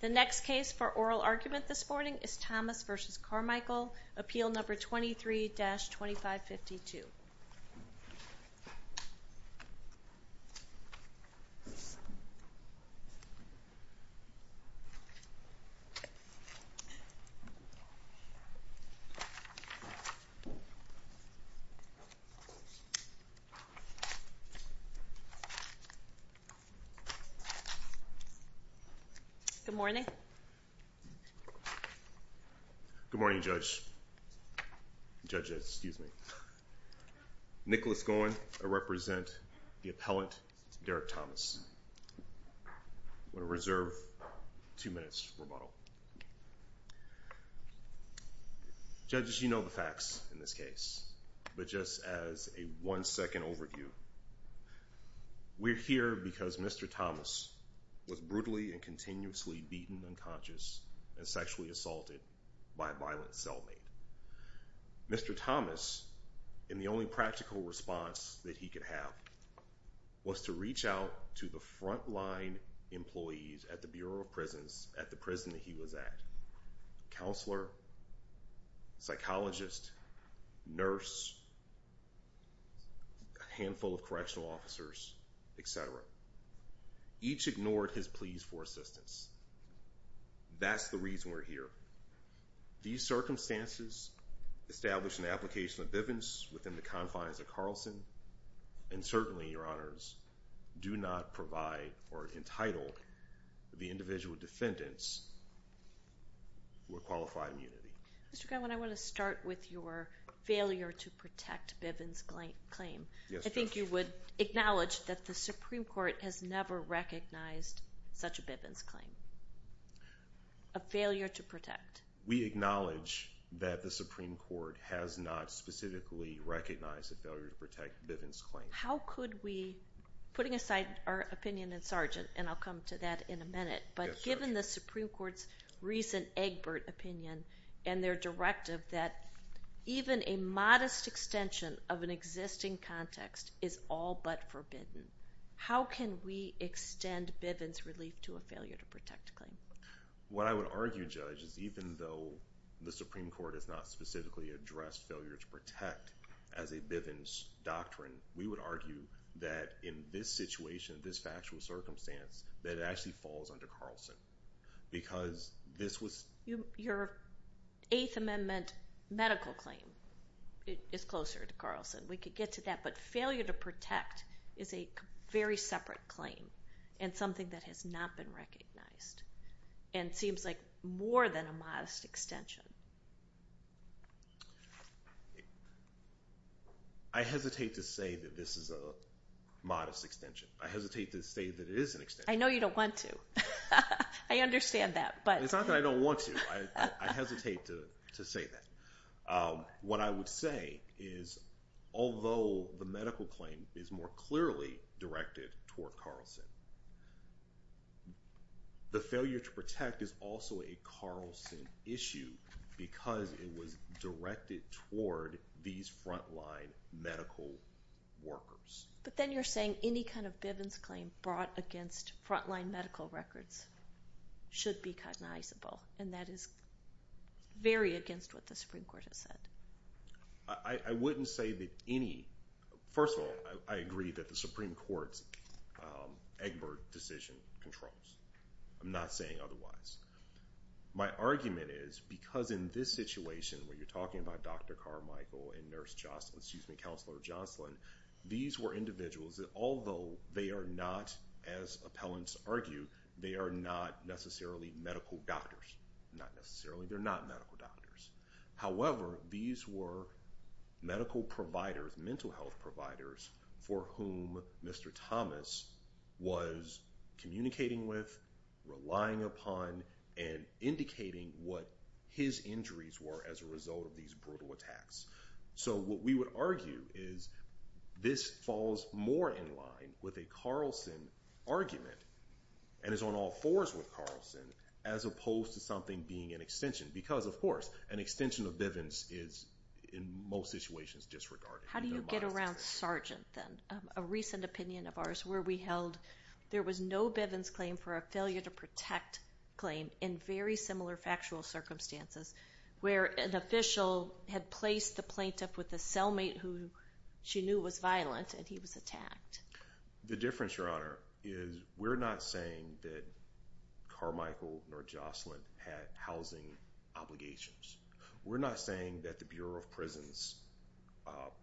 The next case for oral argument this morning is Thomas v. Carmichael, appeal number 23-2552. Good morning. Good morning, Judge. Judge, excuse me. Nicholas Goen, I represent the appellant, Derek Thomas. I'm going to reserve two minutes for rebuttal. Judges, you know the facts in this case, but just as a one-second overview, we're here because Mr. Thomas was brutally and continuously beaten unconscious and sexually assaulted by a violent cellmate. Mr. Thomas, in the only practical response that he could have, was to reach out to the front-line employees at the Bureau of Prisons at the prison that he was at, a counselor, psychologist, nurse, a handful of correctional officers, etc. Each ignored his pleas for assistance. That's the reason we're here. These circumstances establish an application of bivens within the confines of Carlson and certainly, Your Honors, do not provide or entitle the individual defendants with qualified immunity. Mr. Goen, I want to start with your failure to protect bivens claim. I think you would acknowledge that the Supreme Court has never recognized such a bivens claim, a failure to protect. We acknowledge that the Supreme Court has not specifically recognized a failure to protect bivens claim. How could we, putting aside our opinion in Sargent, and I'll come to that in a minute, but given the Supreme Court's recent Egbert opinion and their directive that even a modest extension of an existing context is all but forbidden, how can we extend bivens relief to a failure to protect claim? What I would argue, Judge, is even though the Supreme Court has not specifically addressed failure to protect as a bivens doctrine, we would argue that in this situation, this factual circumstance, that it actually falls under Carlson because this was... Your Eighth Amendment medical claim is closer to Carlson. We could get to that, but failure to protect is a very separate claim and something that has not been recognized and seems like more than a modest extension. I hesitate to say that this is a modest extension. I hesitate to say that it is an extension. I know you don't want to. I understand that, but... It's not that I don't want to. I hesitate to say that. What I would say is although the medical claim is more clearly directed toward Carlson, the failure to protect is also a Carlson issue because it was directed toward these front-line medical workers. But then you're saying any kind of bivens claim brought against front-line medical records should be cognizable, and that is very against what the Supreme Court has said. I wouldn't say that any... I'm not saying otherwise. My argument is because in this situation, where you're talking about Dr. Carmichael and Counselor Jocelyn, these were individuals that although they are not, as appellants argue, they are not necessarily medical doctors. Not necessarily. They're not medical doctors. However, these were medical providers, mental health providers, for whom Mr. Thomas was communicating with, relying upon, and indicating what his injuries were as a result of these brutal attacks. So what we would argue is this falls more in line with a Carlson argument and is on all fours with Carlson as opposed to something being an extension because, of course, an extension of bivens is in most situations disregarded. How do you get around Sargent, then? A recent opinion of ours where we held there was no bivens claim for a failure to protect claim in very similar factual circumstances where an official had placed the plaintiff with a cellmate who she knew was violent and he was attacked. The difference, Your Honor, is we're not saying that Carmichael nor Jocelyn had housing obligations. We're not saying that the Bureau of Prisons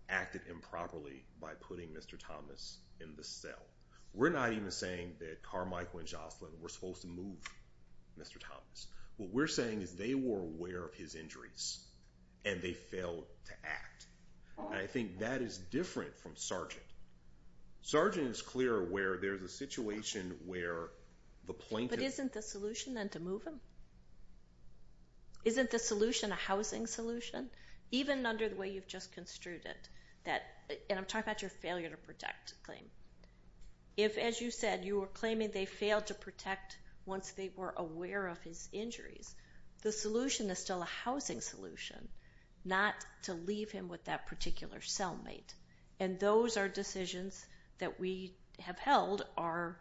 acted improperly by putting Mr. Thomas in the cell. We're not even saying that Carmichael and Jocelyn were supposed to move Mr. Thomas. What we're saying is they were aware of his injuries and they failed to act. I think that is different from Sargent. Sargent is clear where there's a situation where the plaintiff... But isn't the solution then to move him? Isn't the solution a housing solution? Even under the way you've just construed it, and I'm talking about your failure to protect claim, if, as you said, you were claiming they failed to protect once they were aware of his injuries, the solution is still a housing solution, not to leave him with that particular cellmate. And those are decisions that we have held are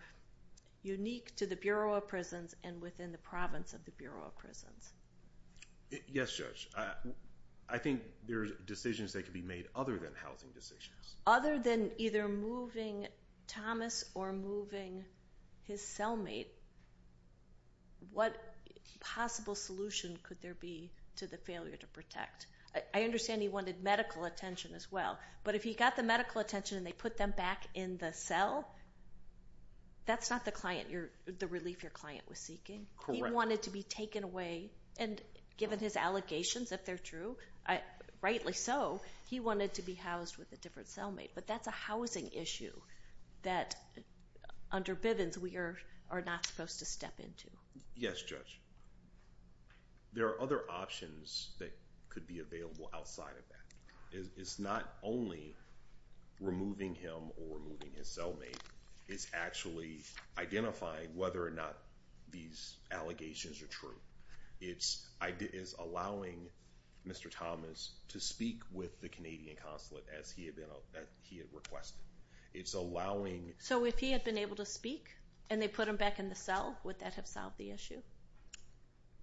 unique to the Bureau of Prisons and within the province of the Bureau of Prisons. Yes, Judge. I think there are decisions that can be made other than housing decisions. Other than either moving Thomas or moving his cellmate, what possible solution could there be to the failure to protect? I understand he wanted medical attention as well, but if he got the medical attention and they put them back in the cell, that's not the relief your client was seeking. He wanted to be taken away, and given his allegations, if they're true, rightly so, he wanted to be housed with a different cellmate. But that's a housing issue that under Bivens we are not supposed to step into. Yes, Judge. There are other options that could be available outside of that. It's not only removing him or removing his cellmate. It's actually identifying whether or not these allegations are true. It's allowing Mr. Thomas to speak with the Canadian consulate as he had requested. It's allowing... So if he had been able to speak and they put him back in the cell, would that have solved the issue?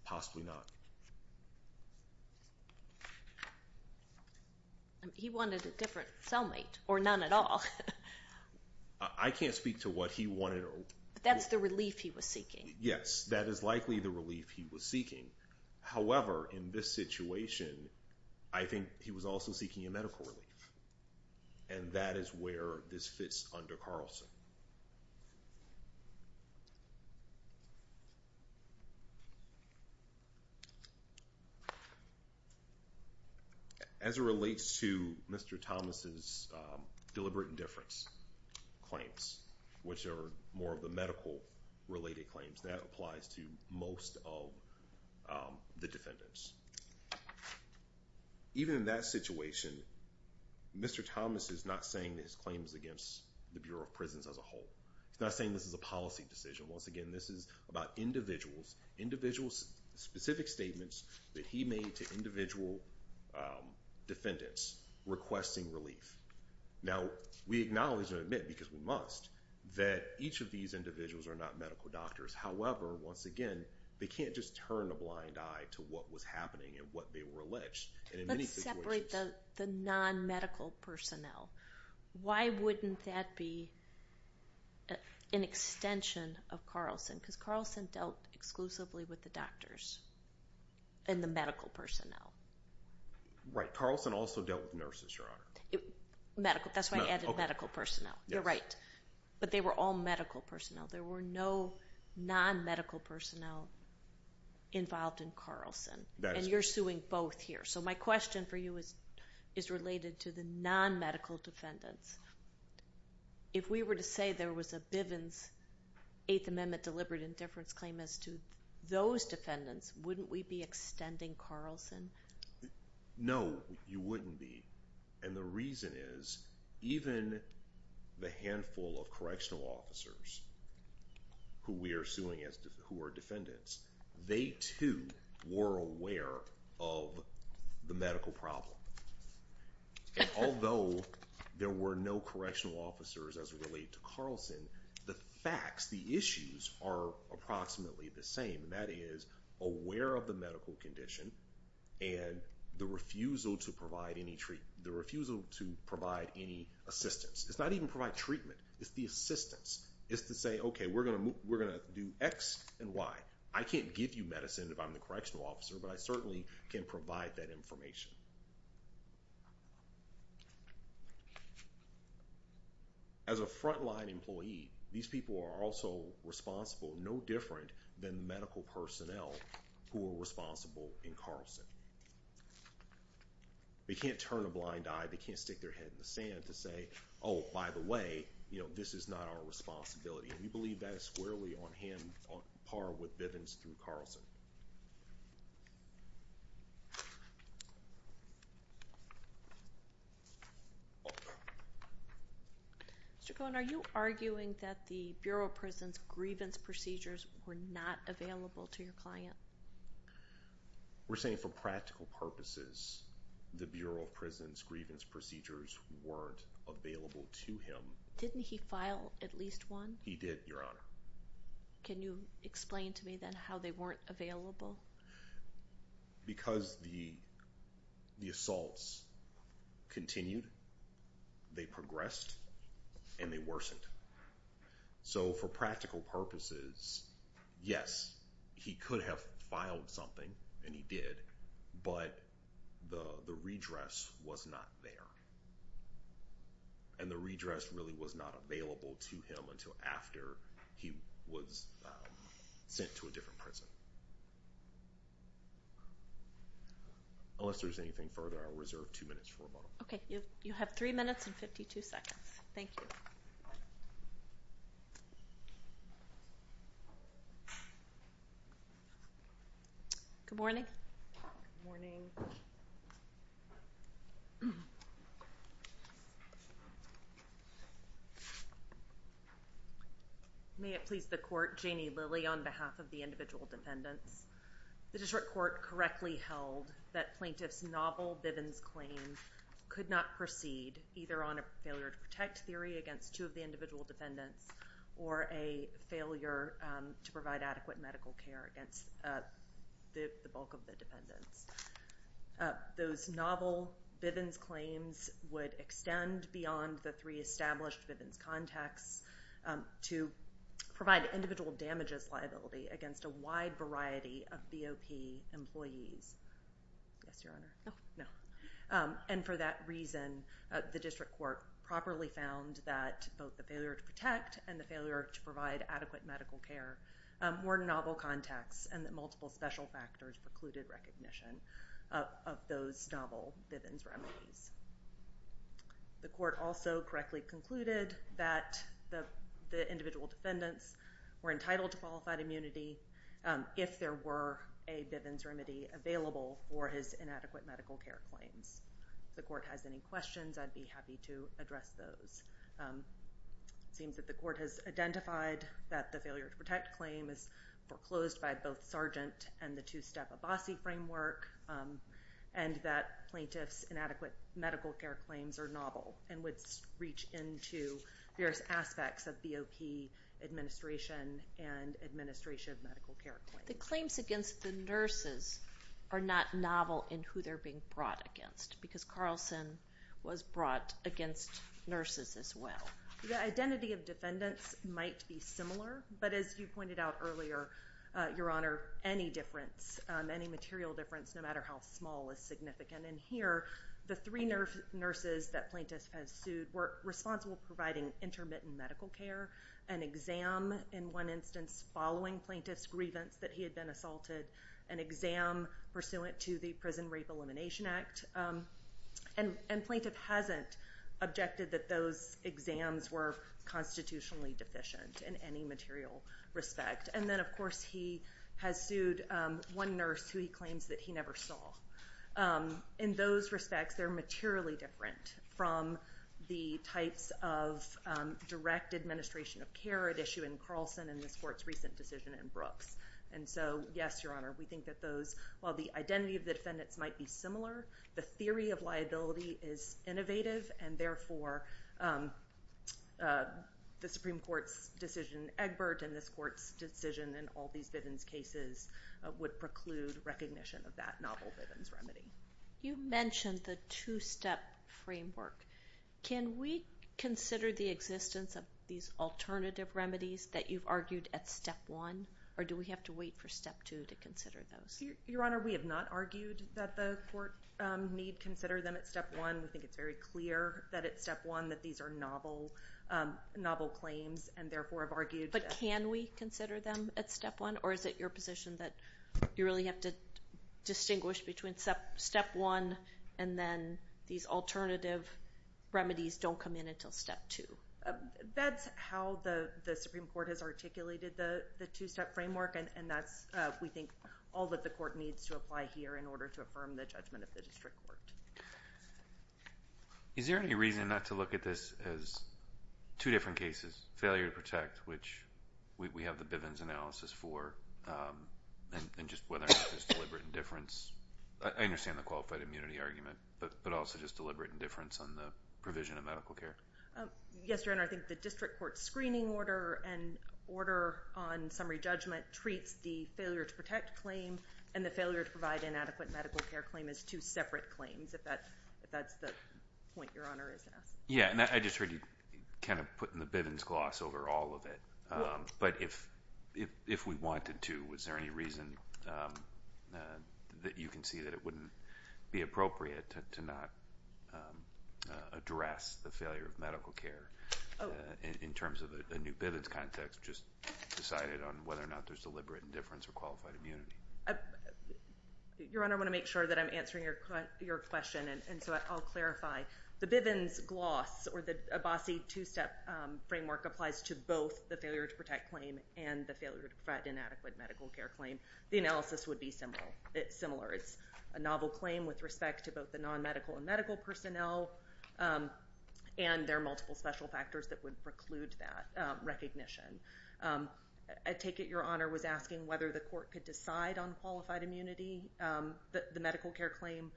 Possibly not. He wanted a different cellmate, or none at all. I can't speak to what he wanted. That's the relief he was seeking. Yes, that is likely the relief he was seeking. However, in this situation, I think he was also seeking a medical relief, and that is where this fits under Carlson. As it relates to Mr. Thomas's deliberate indifference claims, which are more of the medical-related claims, that applies to most of the defendants. Even in that situation, Mr. Thomas is not saying that his claims against the Bureau of Prisons are false. He's not saying this is a policy decision. Once again, this is about individuals, individuals' specific statements that he made to individual defendants requesting relief. Now, we acknowledge and admit, because we must, that each of these individuals are not medical doctors. However, once again, they can't just turn a blind eye to what was happening and what they were alleged. Let's separate the non-medical personnel. Why wouldn't that be an extension of Carlson? Because Carlson dealt exclusively with the doctors and the medical personnel. Right. Carlson also dealt with nurses, Your Honor. That's why I added medical personnel. You're right. But they were all medical personnel. There were no non-medical personnel involved in Carlson, and you're suing both here. So my question for you is related to the non-medical defendants. If we were to say there was a Bivens Eighth Amendment deliberate indifference claim as to those defendants, wouldn't we be extending Carlson? No, you wouldn't be. And the reason is, even the handful of correctional officers who we are suing who are defendants, they, too, were aware of the medical problem. And although there were no correctional officers as related to Carlson, the facts, the issues are approximately the same, and that is aware of the medical condition and the refusal to provide any treatment, the refusal to provide any assistance. It's not even provide treatment. It's the assistance. It's to say, okay, we're going to do X and Y. I can't give you medicine if I'm the correctional officer, but I certainly can provide that information. As a frontline employee, these people are also responsible no different than the medical personnel who are responsible in Carlson. They can't turn a blind eye. They can't stick their head in the sand to say, oh, by the way, this is not our responsibility. We believe that is squarely on par with Bivens through Carlson. Mr. Cohen, are you arguing that the Bureau of Prisons' grievance procedures were not available to your client? We're saying for practical purposes, the Bureau of Prisons' grievance procedures weren't available to him. Didn't he file at least one? He did, Your Honor. Can you explain to me then how they weren't available? Because the assaults continued, they progressed, and they worsened. So for practical purposes, yes, he could have filed something, and he did, but the redress was not there. And the redress really was not available to him until after he was sent to a different prison. Unless there's anything further, I'll reserve two minutes for rebuttal. Okay. You have three minutes and 52 seconds. Thank you. Good morning. Good morning. May it please the Court, Janie Lilly on behalf of the individual defendants. The district court correctly held that plaintiff's novel Bivens claim could not proceed either on a failure to protect theory against two of the individual defendants or a failure to provide adequate medical care against the bulk of the defendants. Those novel Bivens claims would extend beyond the three established Bivens contexts to provide individual damages liability against a wide variety of BOP employees. Yes, Your Honor. No. No. And for that reason, the district court properly found that both the failure to protect and the failure to provide adequate medical care were novel contexts and that multiple special factors precluded recognition of those novel Bivens remedies. The court also correctly concluded that the individual defendants were entitled to qualified immunity if there were a Bivens remedy available for his inadequate medical care claims. If the court has any questions, I'd be happy to address those. It seems that the court has identified that the failure to protect claim is foreclosed by both Sargent and the two-step Abbasi framework and that plaintiff's inadequate medical care claims are novel and would reach into various aspects of BOP administration and administration of medical care claims. The claims against the nurses are not novel in who they're being brought against because Carlson was brought against nurses as well. The identity of defendants might be similar, but as you pointed out earlier, Your Honor, any difference, any material difference, no matter how small is significant. And here, the three nurses that plaintiff has sued were responsible for providing intermittent medical care, an exam in one instance following plaintiff's grievance that he had been assaulted, an exam pursuant to the Prison Rape Elimination Act. And plaintiff hasn't objected that those exams were constitutionally deficient in any material respect. And then, of course, he has sued one nurse who he claims that he never saw. In those respects, they're materially different from the types of direct administration of care at issue in Carlson and this court's recent decision in Brooks. And so, yes, Your Honor, we think that those, while the identity of the defendants might be similar, the theory of liability is innovative, and therefore, the Supreme Court's decision in Egbert and this court's decision in all these Bivens cases would preclude recognition of that novel Bivens remedy. You mentioned the two-step framework. Can we consider the existence of these alternative remedies that you've argued at step one, or do we have to wait for step two to consider those? Your Honor, we have not argued that the court need consider them at step one. We think it's very clear that at step one that these are novel claims and, therefore, have argued that. But can we consider them at step one, or is it your position that you really have to distinguish between step one and then these alternative remedies don't come in until step two? That's how the Supreme Court has articulated the two-step framework, and that's, we think, all that the court needs to apply here in order to affirm the judgment of the district court. Is there any reason not to look at this as two different cases, failure to protect, which we have the Bivens analysis for, and just whether or not there's deliberate indifference? I understand the qualified immunity argument, but also just deliberate indifference on the provision of medical care. Yes, Your Honor, I think the district court screening order and order on summary judgment treats the failure to protect claim and the failure to provide an adequate medical care claim as two separate claims, if that's the point Your Honor is asking. Yes, and I just heard you kind of put in the Bivens gloss over all of it. But if we wanted to, was there any reason that you can see that it wouldn't be appropriate to not address the failure of medical care in terms of a new Bivens context, just decided on whether or not there's deliberate indifference or qualified immunity? Your Honor, I want to make sure that I'm answering your question, and so I'll clarify. The Bivens gloss or the Abbasi two-step framework applies to both the failure to protect claim and the failure to provide an adequate medical care claim. The analysis would be similar. It's a novel claim with respect to both the non-medical and medical personnel, and there are multiple special factors that would preclude that recognition. I take it Your Honor was asking whether the court could decide on qualified immunity, the medical care claim,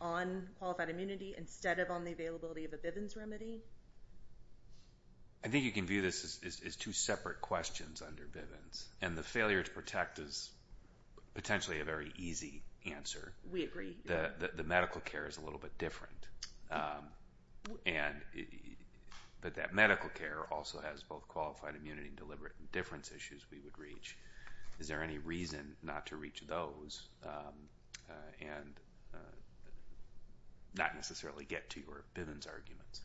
on qualified immunity instead of on the availability of a Bivens remedy? I think you can view this as two separate questions under Bivens, and the failure to protect is potentially a very easy answer. We agree. The medical care is a little bit different, but that medical care also has both qualified immunity and deliberate indifference issues we would reach. Is there any reason not to reach those and not necessarily get to your Bivens arguments?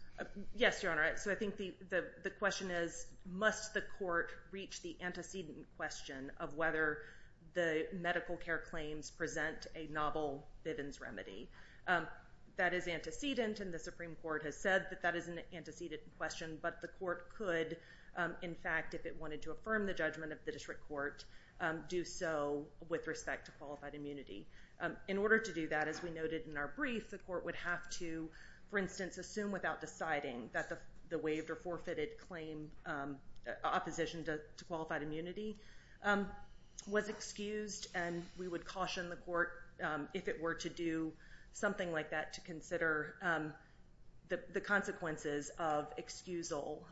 Yes, Your Honor. I think the question is must the court reach the antecedent question of whether the medical care claims present a novel Bivens remedy? That is antecedent, and the Supreme Court has said that that is an antecedent question, but the court could, in fact, if it wanted to affirm the judgment of the district court, do so with respect to qualified immunity. In order to do that, as we noted in our brief, the court would have to, for instance, assume without deciding that the waived or forfeited opposition to qualified immunity was excused, and we would caution the court, if it were to do something like that, to consider the consequences of excusal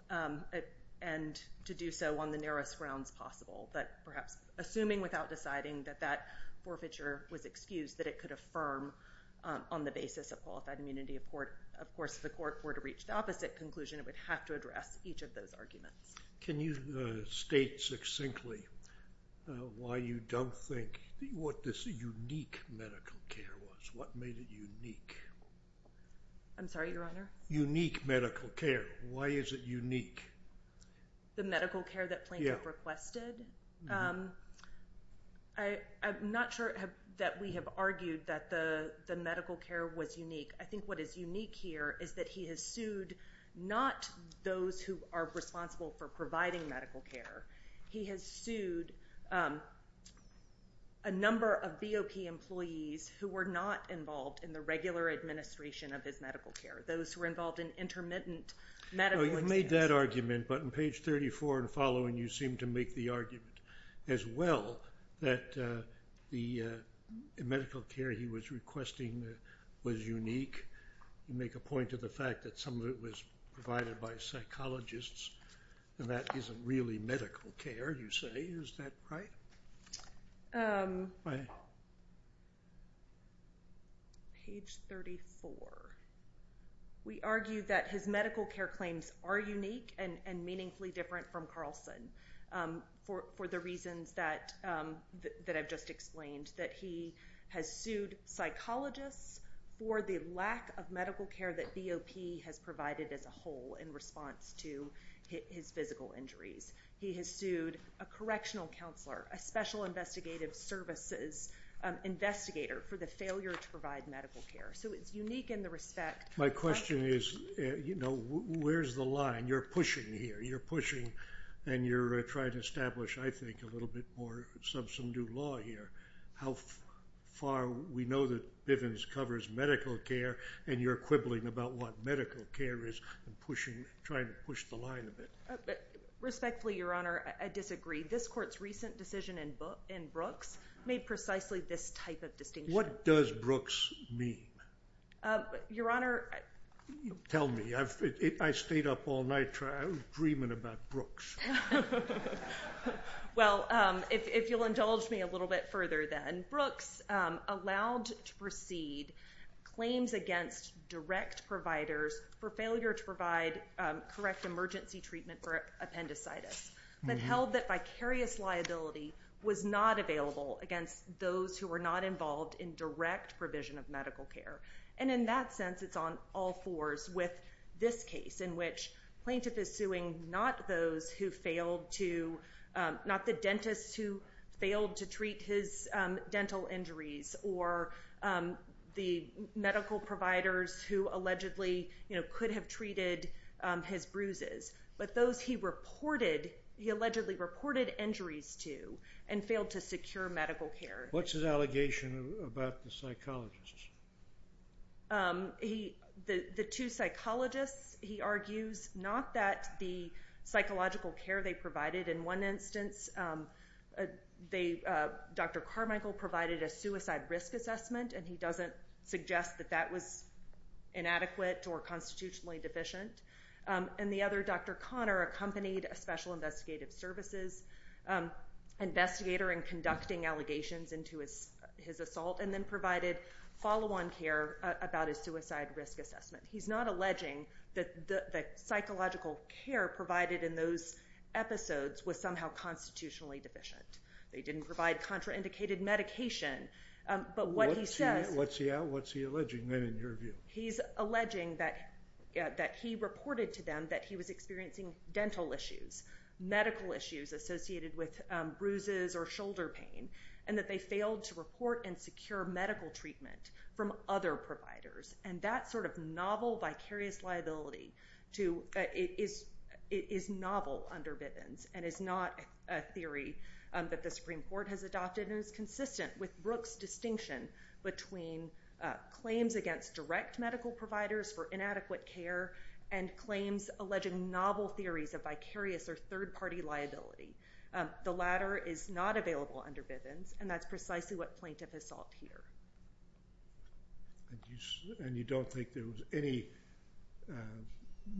and to do so on the nearest grounds possible, but perhaps assuming without deciding that that forfeiture was excused, that it could affirm on the basis of qualified immunity. Of course, if the court were to reach the opposite conclusion, it would have to address each of those arguments. Can you state succinctly why you don't think what this unique medical care was? What made it unique? I'm sorry, Your Honor? Unique medical care. Why is it unique? The medical care that plaintiff requested? I'm not sure that we have argued that the medical care was unique. I think what is unique here is that he has sued not those who are responsible for providing medical care. He has sued a number of BOP employees who were not involved in the regular administration of his medical care, those who were involved in intermittent medical care. You made that argument, but on page 34 and following, you seem to make the argument as well that the medical care he was requesting was unique. You make a point of the fact that some of it was provided by psychologists, and that isn't really medical care, you say. Is that right? Page 34. We argue that his medical care claims are unique and meaningfully different from Carlson for the reasons that I've just explained, that he has sued psychologists for the lack of medical care that BOP has provided as a whole in response to his physical injuries. He has sued a correctional counselor, a special investigative services investigator, for the failure to provide medical care. So it's unique in the respect. My question is, you know, where's the line? You're pushing here. You're pushing, and you're trying to establish, I think, a little bit more substantive law here. How far we know that Bivens covers medical care, and you're quibbling about what medical care is and trying to push the line a bit. Respectfully, Your Honor, I disagree. This Court's recent decision in Brooks made precisely this type of distinction. What does Brooks mean? Your Honor. Tell me. I stayed up all night dreaming about Brooks. Well, if you'll indulge me a little bit further then, Brooks allowed to proceed claims against direct providers for failure to provide correct emergency treatment for appendicitis, but held that vicarious liability was not available against those who were not involved in direct provision of medical care. And in that sense, it's on all fours with this case, in which the plaintiff is suing not the dentists who failed to treat his dental injuries or the medical providers who allegedly could have treated his bruises, but those he allegedly reported injuries to and failed to secure medical care. What's his allegation about the psychologists? The two psychologists, he argues, not that the psychological care they provided. In one instance, Dr. Carmichael provided a suicide risk assessment, and he doesn't suggest that that was inadequate or constitutionally deficient. And the other, Dr. Conner, accompanied a special investigative services investigator in conducting allegations into his assault and then provided follow-on care about his suicide risk assessment. He's not alleging that the psychological care provided in those episodes was somehow constitutionally deficient. They didn't provide contraindicated medication, but what he says- What's he alleging then, in your view? He's alleging that he reported to them that he was experiencing dental issues, medical issues associated with bruises or shoulder pain, and that they failed to report and secure medical treatment from other providers. And that sort of novel, vicarious liability is novel under Bivens and is not a theory that the Supreme Court has adopted and is consistent with Brooks' distinction between claims against direct medical providers for inadequate care and claims alleging novel theories of vicarious or third-party liability. The latter is not available under Bivens, and that's precisely what Plaintiff has sought here. And you don't think there was any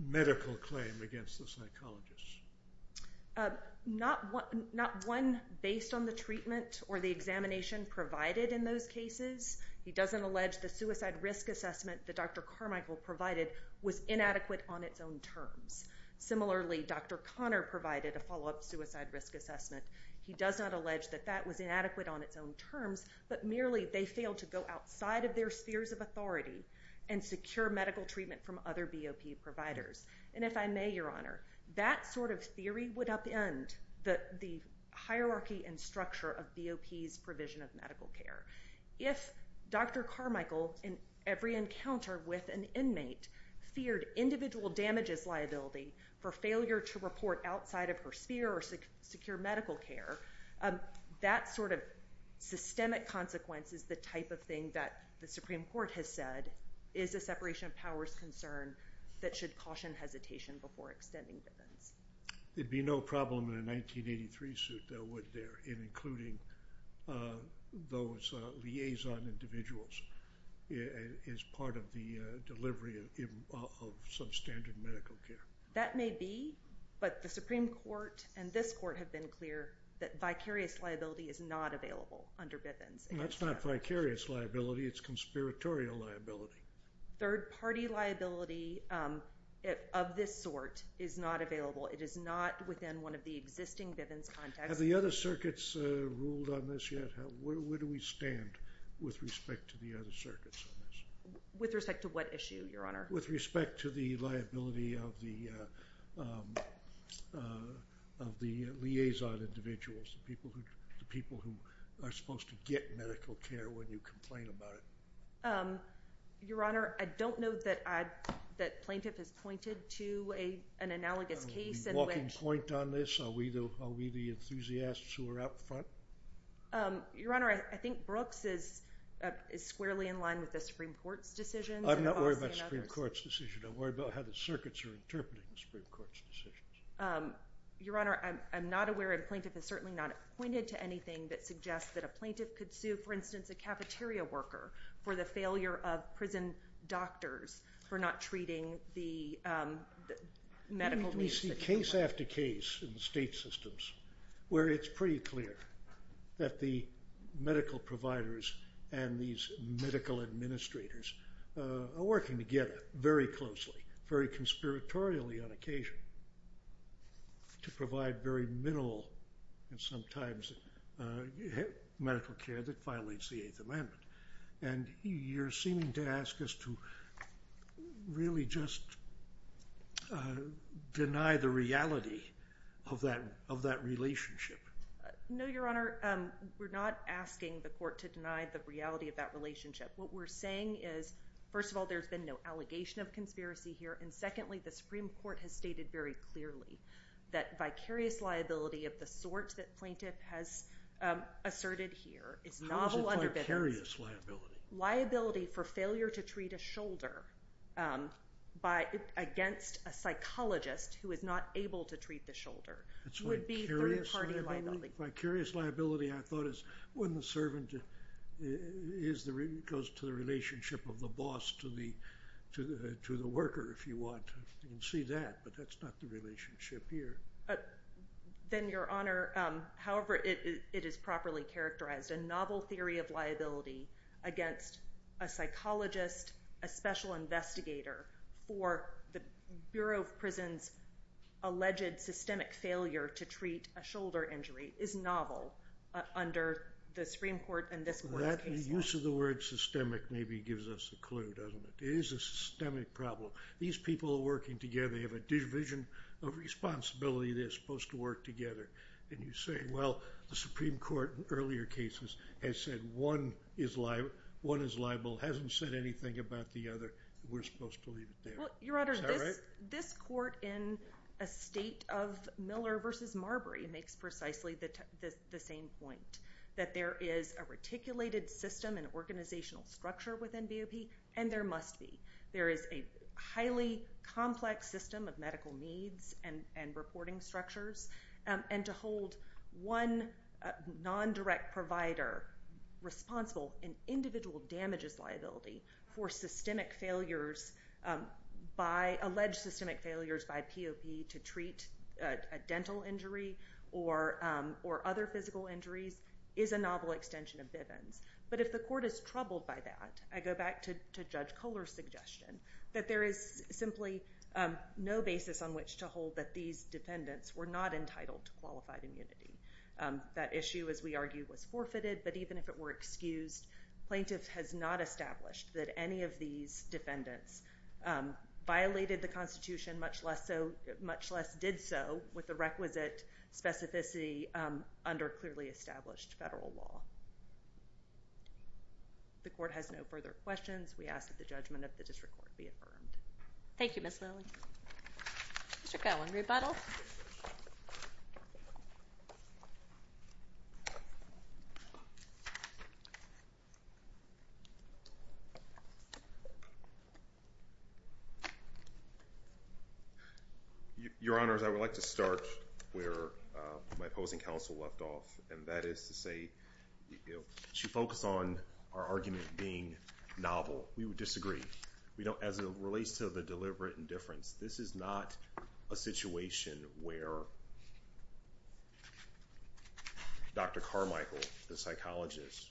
medical claim against the psychologists? Not one based on the treatment or the examination provided in those cases. He doesn't allege the suicide risk assessment that Dr. Carmichael provided was inadequate on its own terms. Similarly, Dr. Connor provided a follow-up suicide risk assessment. He does not allege that that was inadequate on its own terms, but merely they failed to go outside of their spheres of authority and secure medical treatment from other BOP providers. And if I may, Your Honor, that sort of theory would upend the hierarchy and structure of BOP's provision of medical care. If Dr. Carmichael, in every encounter with an inmate, feared individual damages liability for failure to report outside of her sphere or secure medical care, that sort of systemic consequence is the type of thing that the Supreme Court has said is a separation of powers concern that should caution hesitation before extending Bivens. There'd be no problem in a 1983 suit, though, would there, in including those liaison individuals as part of the delivery of substandard medical care? That may be, but the Supreme Court and this Court have been clear that vicarious liability is not available under Bivens. That's not vicarious liability. It's conspiratorial liability. Third-party liability of this sort is not available. It is not within one of the existing Bivens contexts. Have the other circuits ruled on this yet? Where do we stand with respect to the other circuits on this? With respect to what issue, Your Honor? With respect to the liability of the liaison individuals, the people who are supposed to get medical care when you complain about it? Your Honor, I don't know that Plaintiff has pointed to an analogous case. Are we walking point on this? Are we the enthusiasts who are out front? Your Honor, I think Brooks is squarely in line with the Supreme Court's decisions. I'm not worried about the Supreme Court's decision. I'm worried about how the circuits are interpreting the Supreme Court's decisions. Your Honor, I'm not aware if Plaintiff has certainly not pointed to anything that suggests that a plaintiff could sue, for instance, a cafeteria worker for the failure of prison doctors for not treating the medical needs. We see case after case in the state systems where it's pretty clear that the medical providers and these medical administrators are working together very closely, very conspiratorially on occasion, to provide very minimal and sometimes medical care that violates the Eighth Amendment. And you're seeming to ask us to really just deny the reality of that relationship. No, Your Honor. We're not asking the court to deny the reality of that relationship. What we're saying is, first of all, there's been no allegation of conspiracy here, and secondly, the Supreme Court has stated very clearly that vicarious liability of the sort that Plaintiff has asserted here is novel underpinnings. How is it called vicarious liability? Liability for failure to treat a shoulder against a psychologist who is not able to treat the shoulder would be three-party liability. Vicarious liability, I thought, is when the servant goes to the relationship of the boss to the worker, if you want. You can see that, but that's not the relationship here. Then, Your Honor, however it is properly characterized, a novel theory of liability against a psychologist, a special investigator for the Bureau of Prisons' alleged systemic failure to treat a shoulder injury is novel under the Supreme Court in this court's case. Well, that use of the word systemic maybe gives us a clue, doesn't it? It is a systemic problem. These people are working together. They have a division of responsibility. They're supposed to work together. And you say, well, the Supreme Court in earlier cases has said one is liable, hasn't said anything about the other, and we're supposed to leave it there. Is that right? This court in a state of Miller v. Marbury makes precisely the same point, that there is a reticulated system and organizational structure within BOP, and there must be. There is a highly complex system of medical needs and reporting structures, and to hold one non-direct provider responsible in individual damages liability for systemic failures by alleged systemic failures by POP to treat a dental injury or other physical injuries is a novel extension of Bivens. But if the court is troubled by that, I go back to Judge Kohler's suggestion, that there is simply no basis on which to hold that these defendants were not entitled to qualified immunity. That issue, as we argue, was forfeited, but even if it were excused, plaintiff has not established that any of these defendants violated the Constitution, much less did so with the requisite specificity under clearly established federal law. The court has no further questions. We ask that the judgment of the district court be affirmed. Thank you, Ms. Lilly. Mr. Cohen, rebuttal. Your Honors, I would like to start where my opposing counsel left off, and that is to say she focused on our argument being novel. We would disagree. We don't, as it relates to the deliberate indifference, this is not a situation where Dr. Carmichael, the psychologist,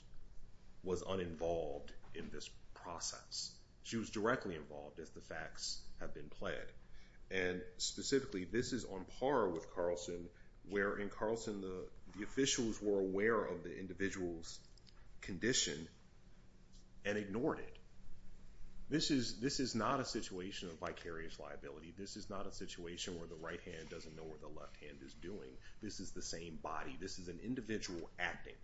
was uninvolved in this process. She was directly involved, as the facts have been pled. And specifically, this is on par with Carlson, where in Carlson, the officials were aware of the individual's condition and ignored it. This is not a situation of vicarious liability. This is not a situation where the right hand doesn't know what the left hand is doing. This is the same body. This is an individual acting.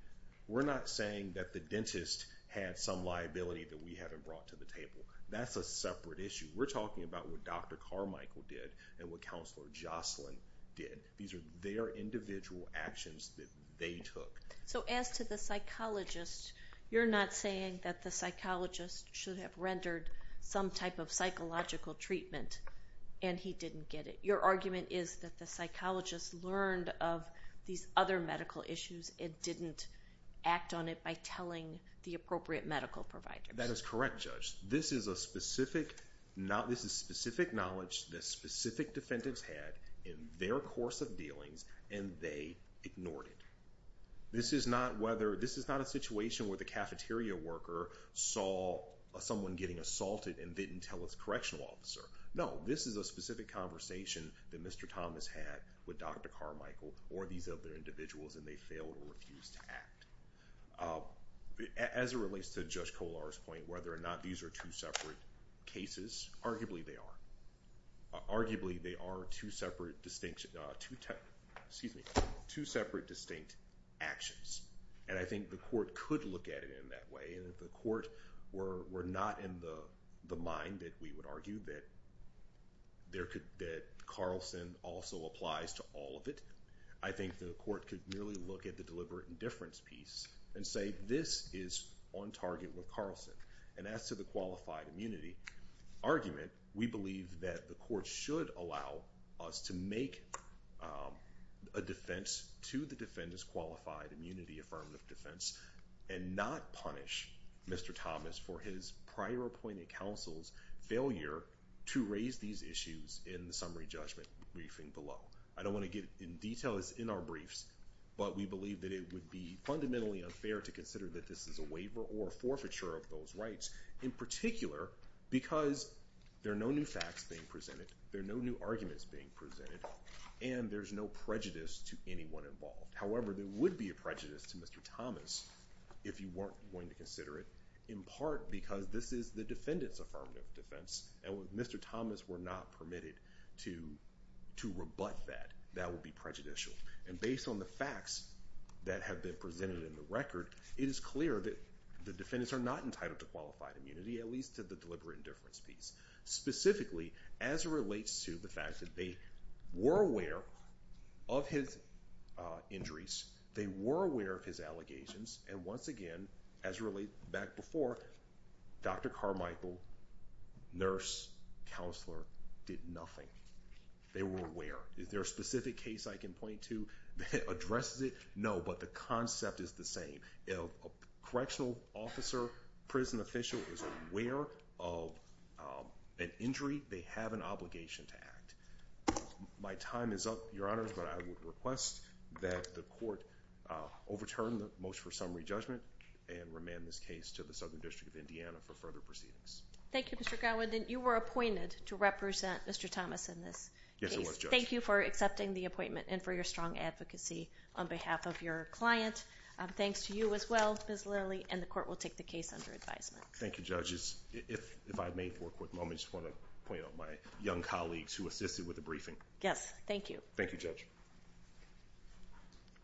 We're not saying that the dentist had some liability that we haven't brought to the table. That's a separate issue. We're talking about what Dr. Carmichael did and what Counselor Jocelyn did. These are their individual actions that they took. So as to the psychologist, you're not saying that the psychologist should have rendered some type of psychological treatment and he didn't get it. Your argument is that the psychologist learned of these other medical issues and didn't act on it by telling the appropriate medical providers. That is correct, Judge. This is specific knowledge that specific defendants had in their course of dealings, and they ignored it. This is not a situation where the cafeteria worker saw someone getting assaulted and didn't tell his correctional officer. No, this is a specific conversation that Mr. Thomas had with Dr. Carmichael or these other individuals, and they failed or refused to act. As it relates to Judge Kollar's point, whether or not these are two separate cases, arguably they are. Arguably they are two separate distinct actions, and I think the court could look at it in that way. And if the court were not in the mind that we would argue that Carlson also applies to all of it, I think the court could really look at the deliberate indifference piece and say, this is on target with Carlson. And as to the qualified immunity argument, we believe that the court should allow us to make a defense to the defendant's qualified immunity affirmative defense and not punish Mr. Thomas for his prior appointed counsel's failure to raise these issues in the summary judgment briefing below. I don't want to get into details in our briefs, but we believe that it would be fundamentally unfair to consider that this is a waiver or forfeiture of those rights, in particular because there are no new facts being presented, there are no new arguments being presented, and there's no prejudice to anyone involved. However, there would be a prejudice to Mr. Thomas if you weren't going to consider it, in part because this is the defendant's affirmative defense, and if Mr. Thomas were not permitted to rebut that, that would be prejudicial. And based on the facts that have been presented in the record, it is clear that the defendants are not entitled to qualified immunity, at least to the deliberate indifference piece. Specifically, as it relates to the fact that they were aware of his injuries, they were aware of his allegations, and once again, as it relates back to before, Dr. Carmichael, nurse, counselor, did nothing. They were aware. Is there a specific case I can point to that addresses it? No, but the concept is the same. If a correctional officer, prison official, is aware of an injury, they have an obligation to act. My time is up, Your Honors, but I would request that the court overturn the motion for summary judgment and remand this case to the Southern District of Indiana for further proceedings. Thank you, Mr. Godwin. You were appointed to represent Mr. Thomas in this case. Yes, I was, Judge. Thank you for accepting the appointment and for your strong advocacy on behalf of your client. Thanks to you as well, Ms. Lilly, and the court will take the case under advisement. Thank you, Judges. If I may for a quick moment, I just want to point out my young colleagues who assisted with the briefing. Yes, thank you. Thank you, Judge.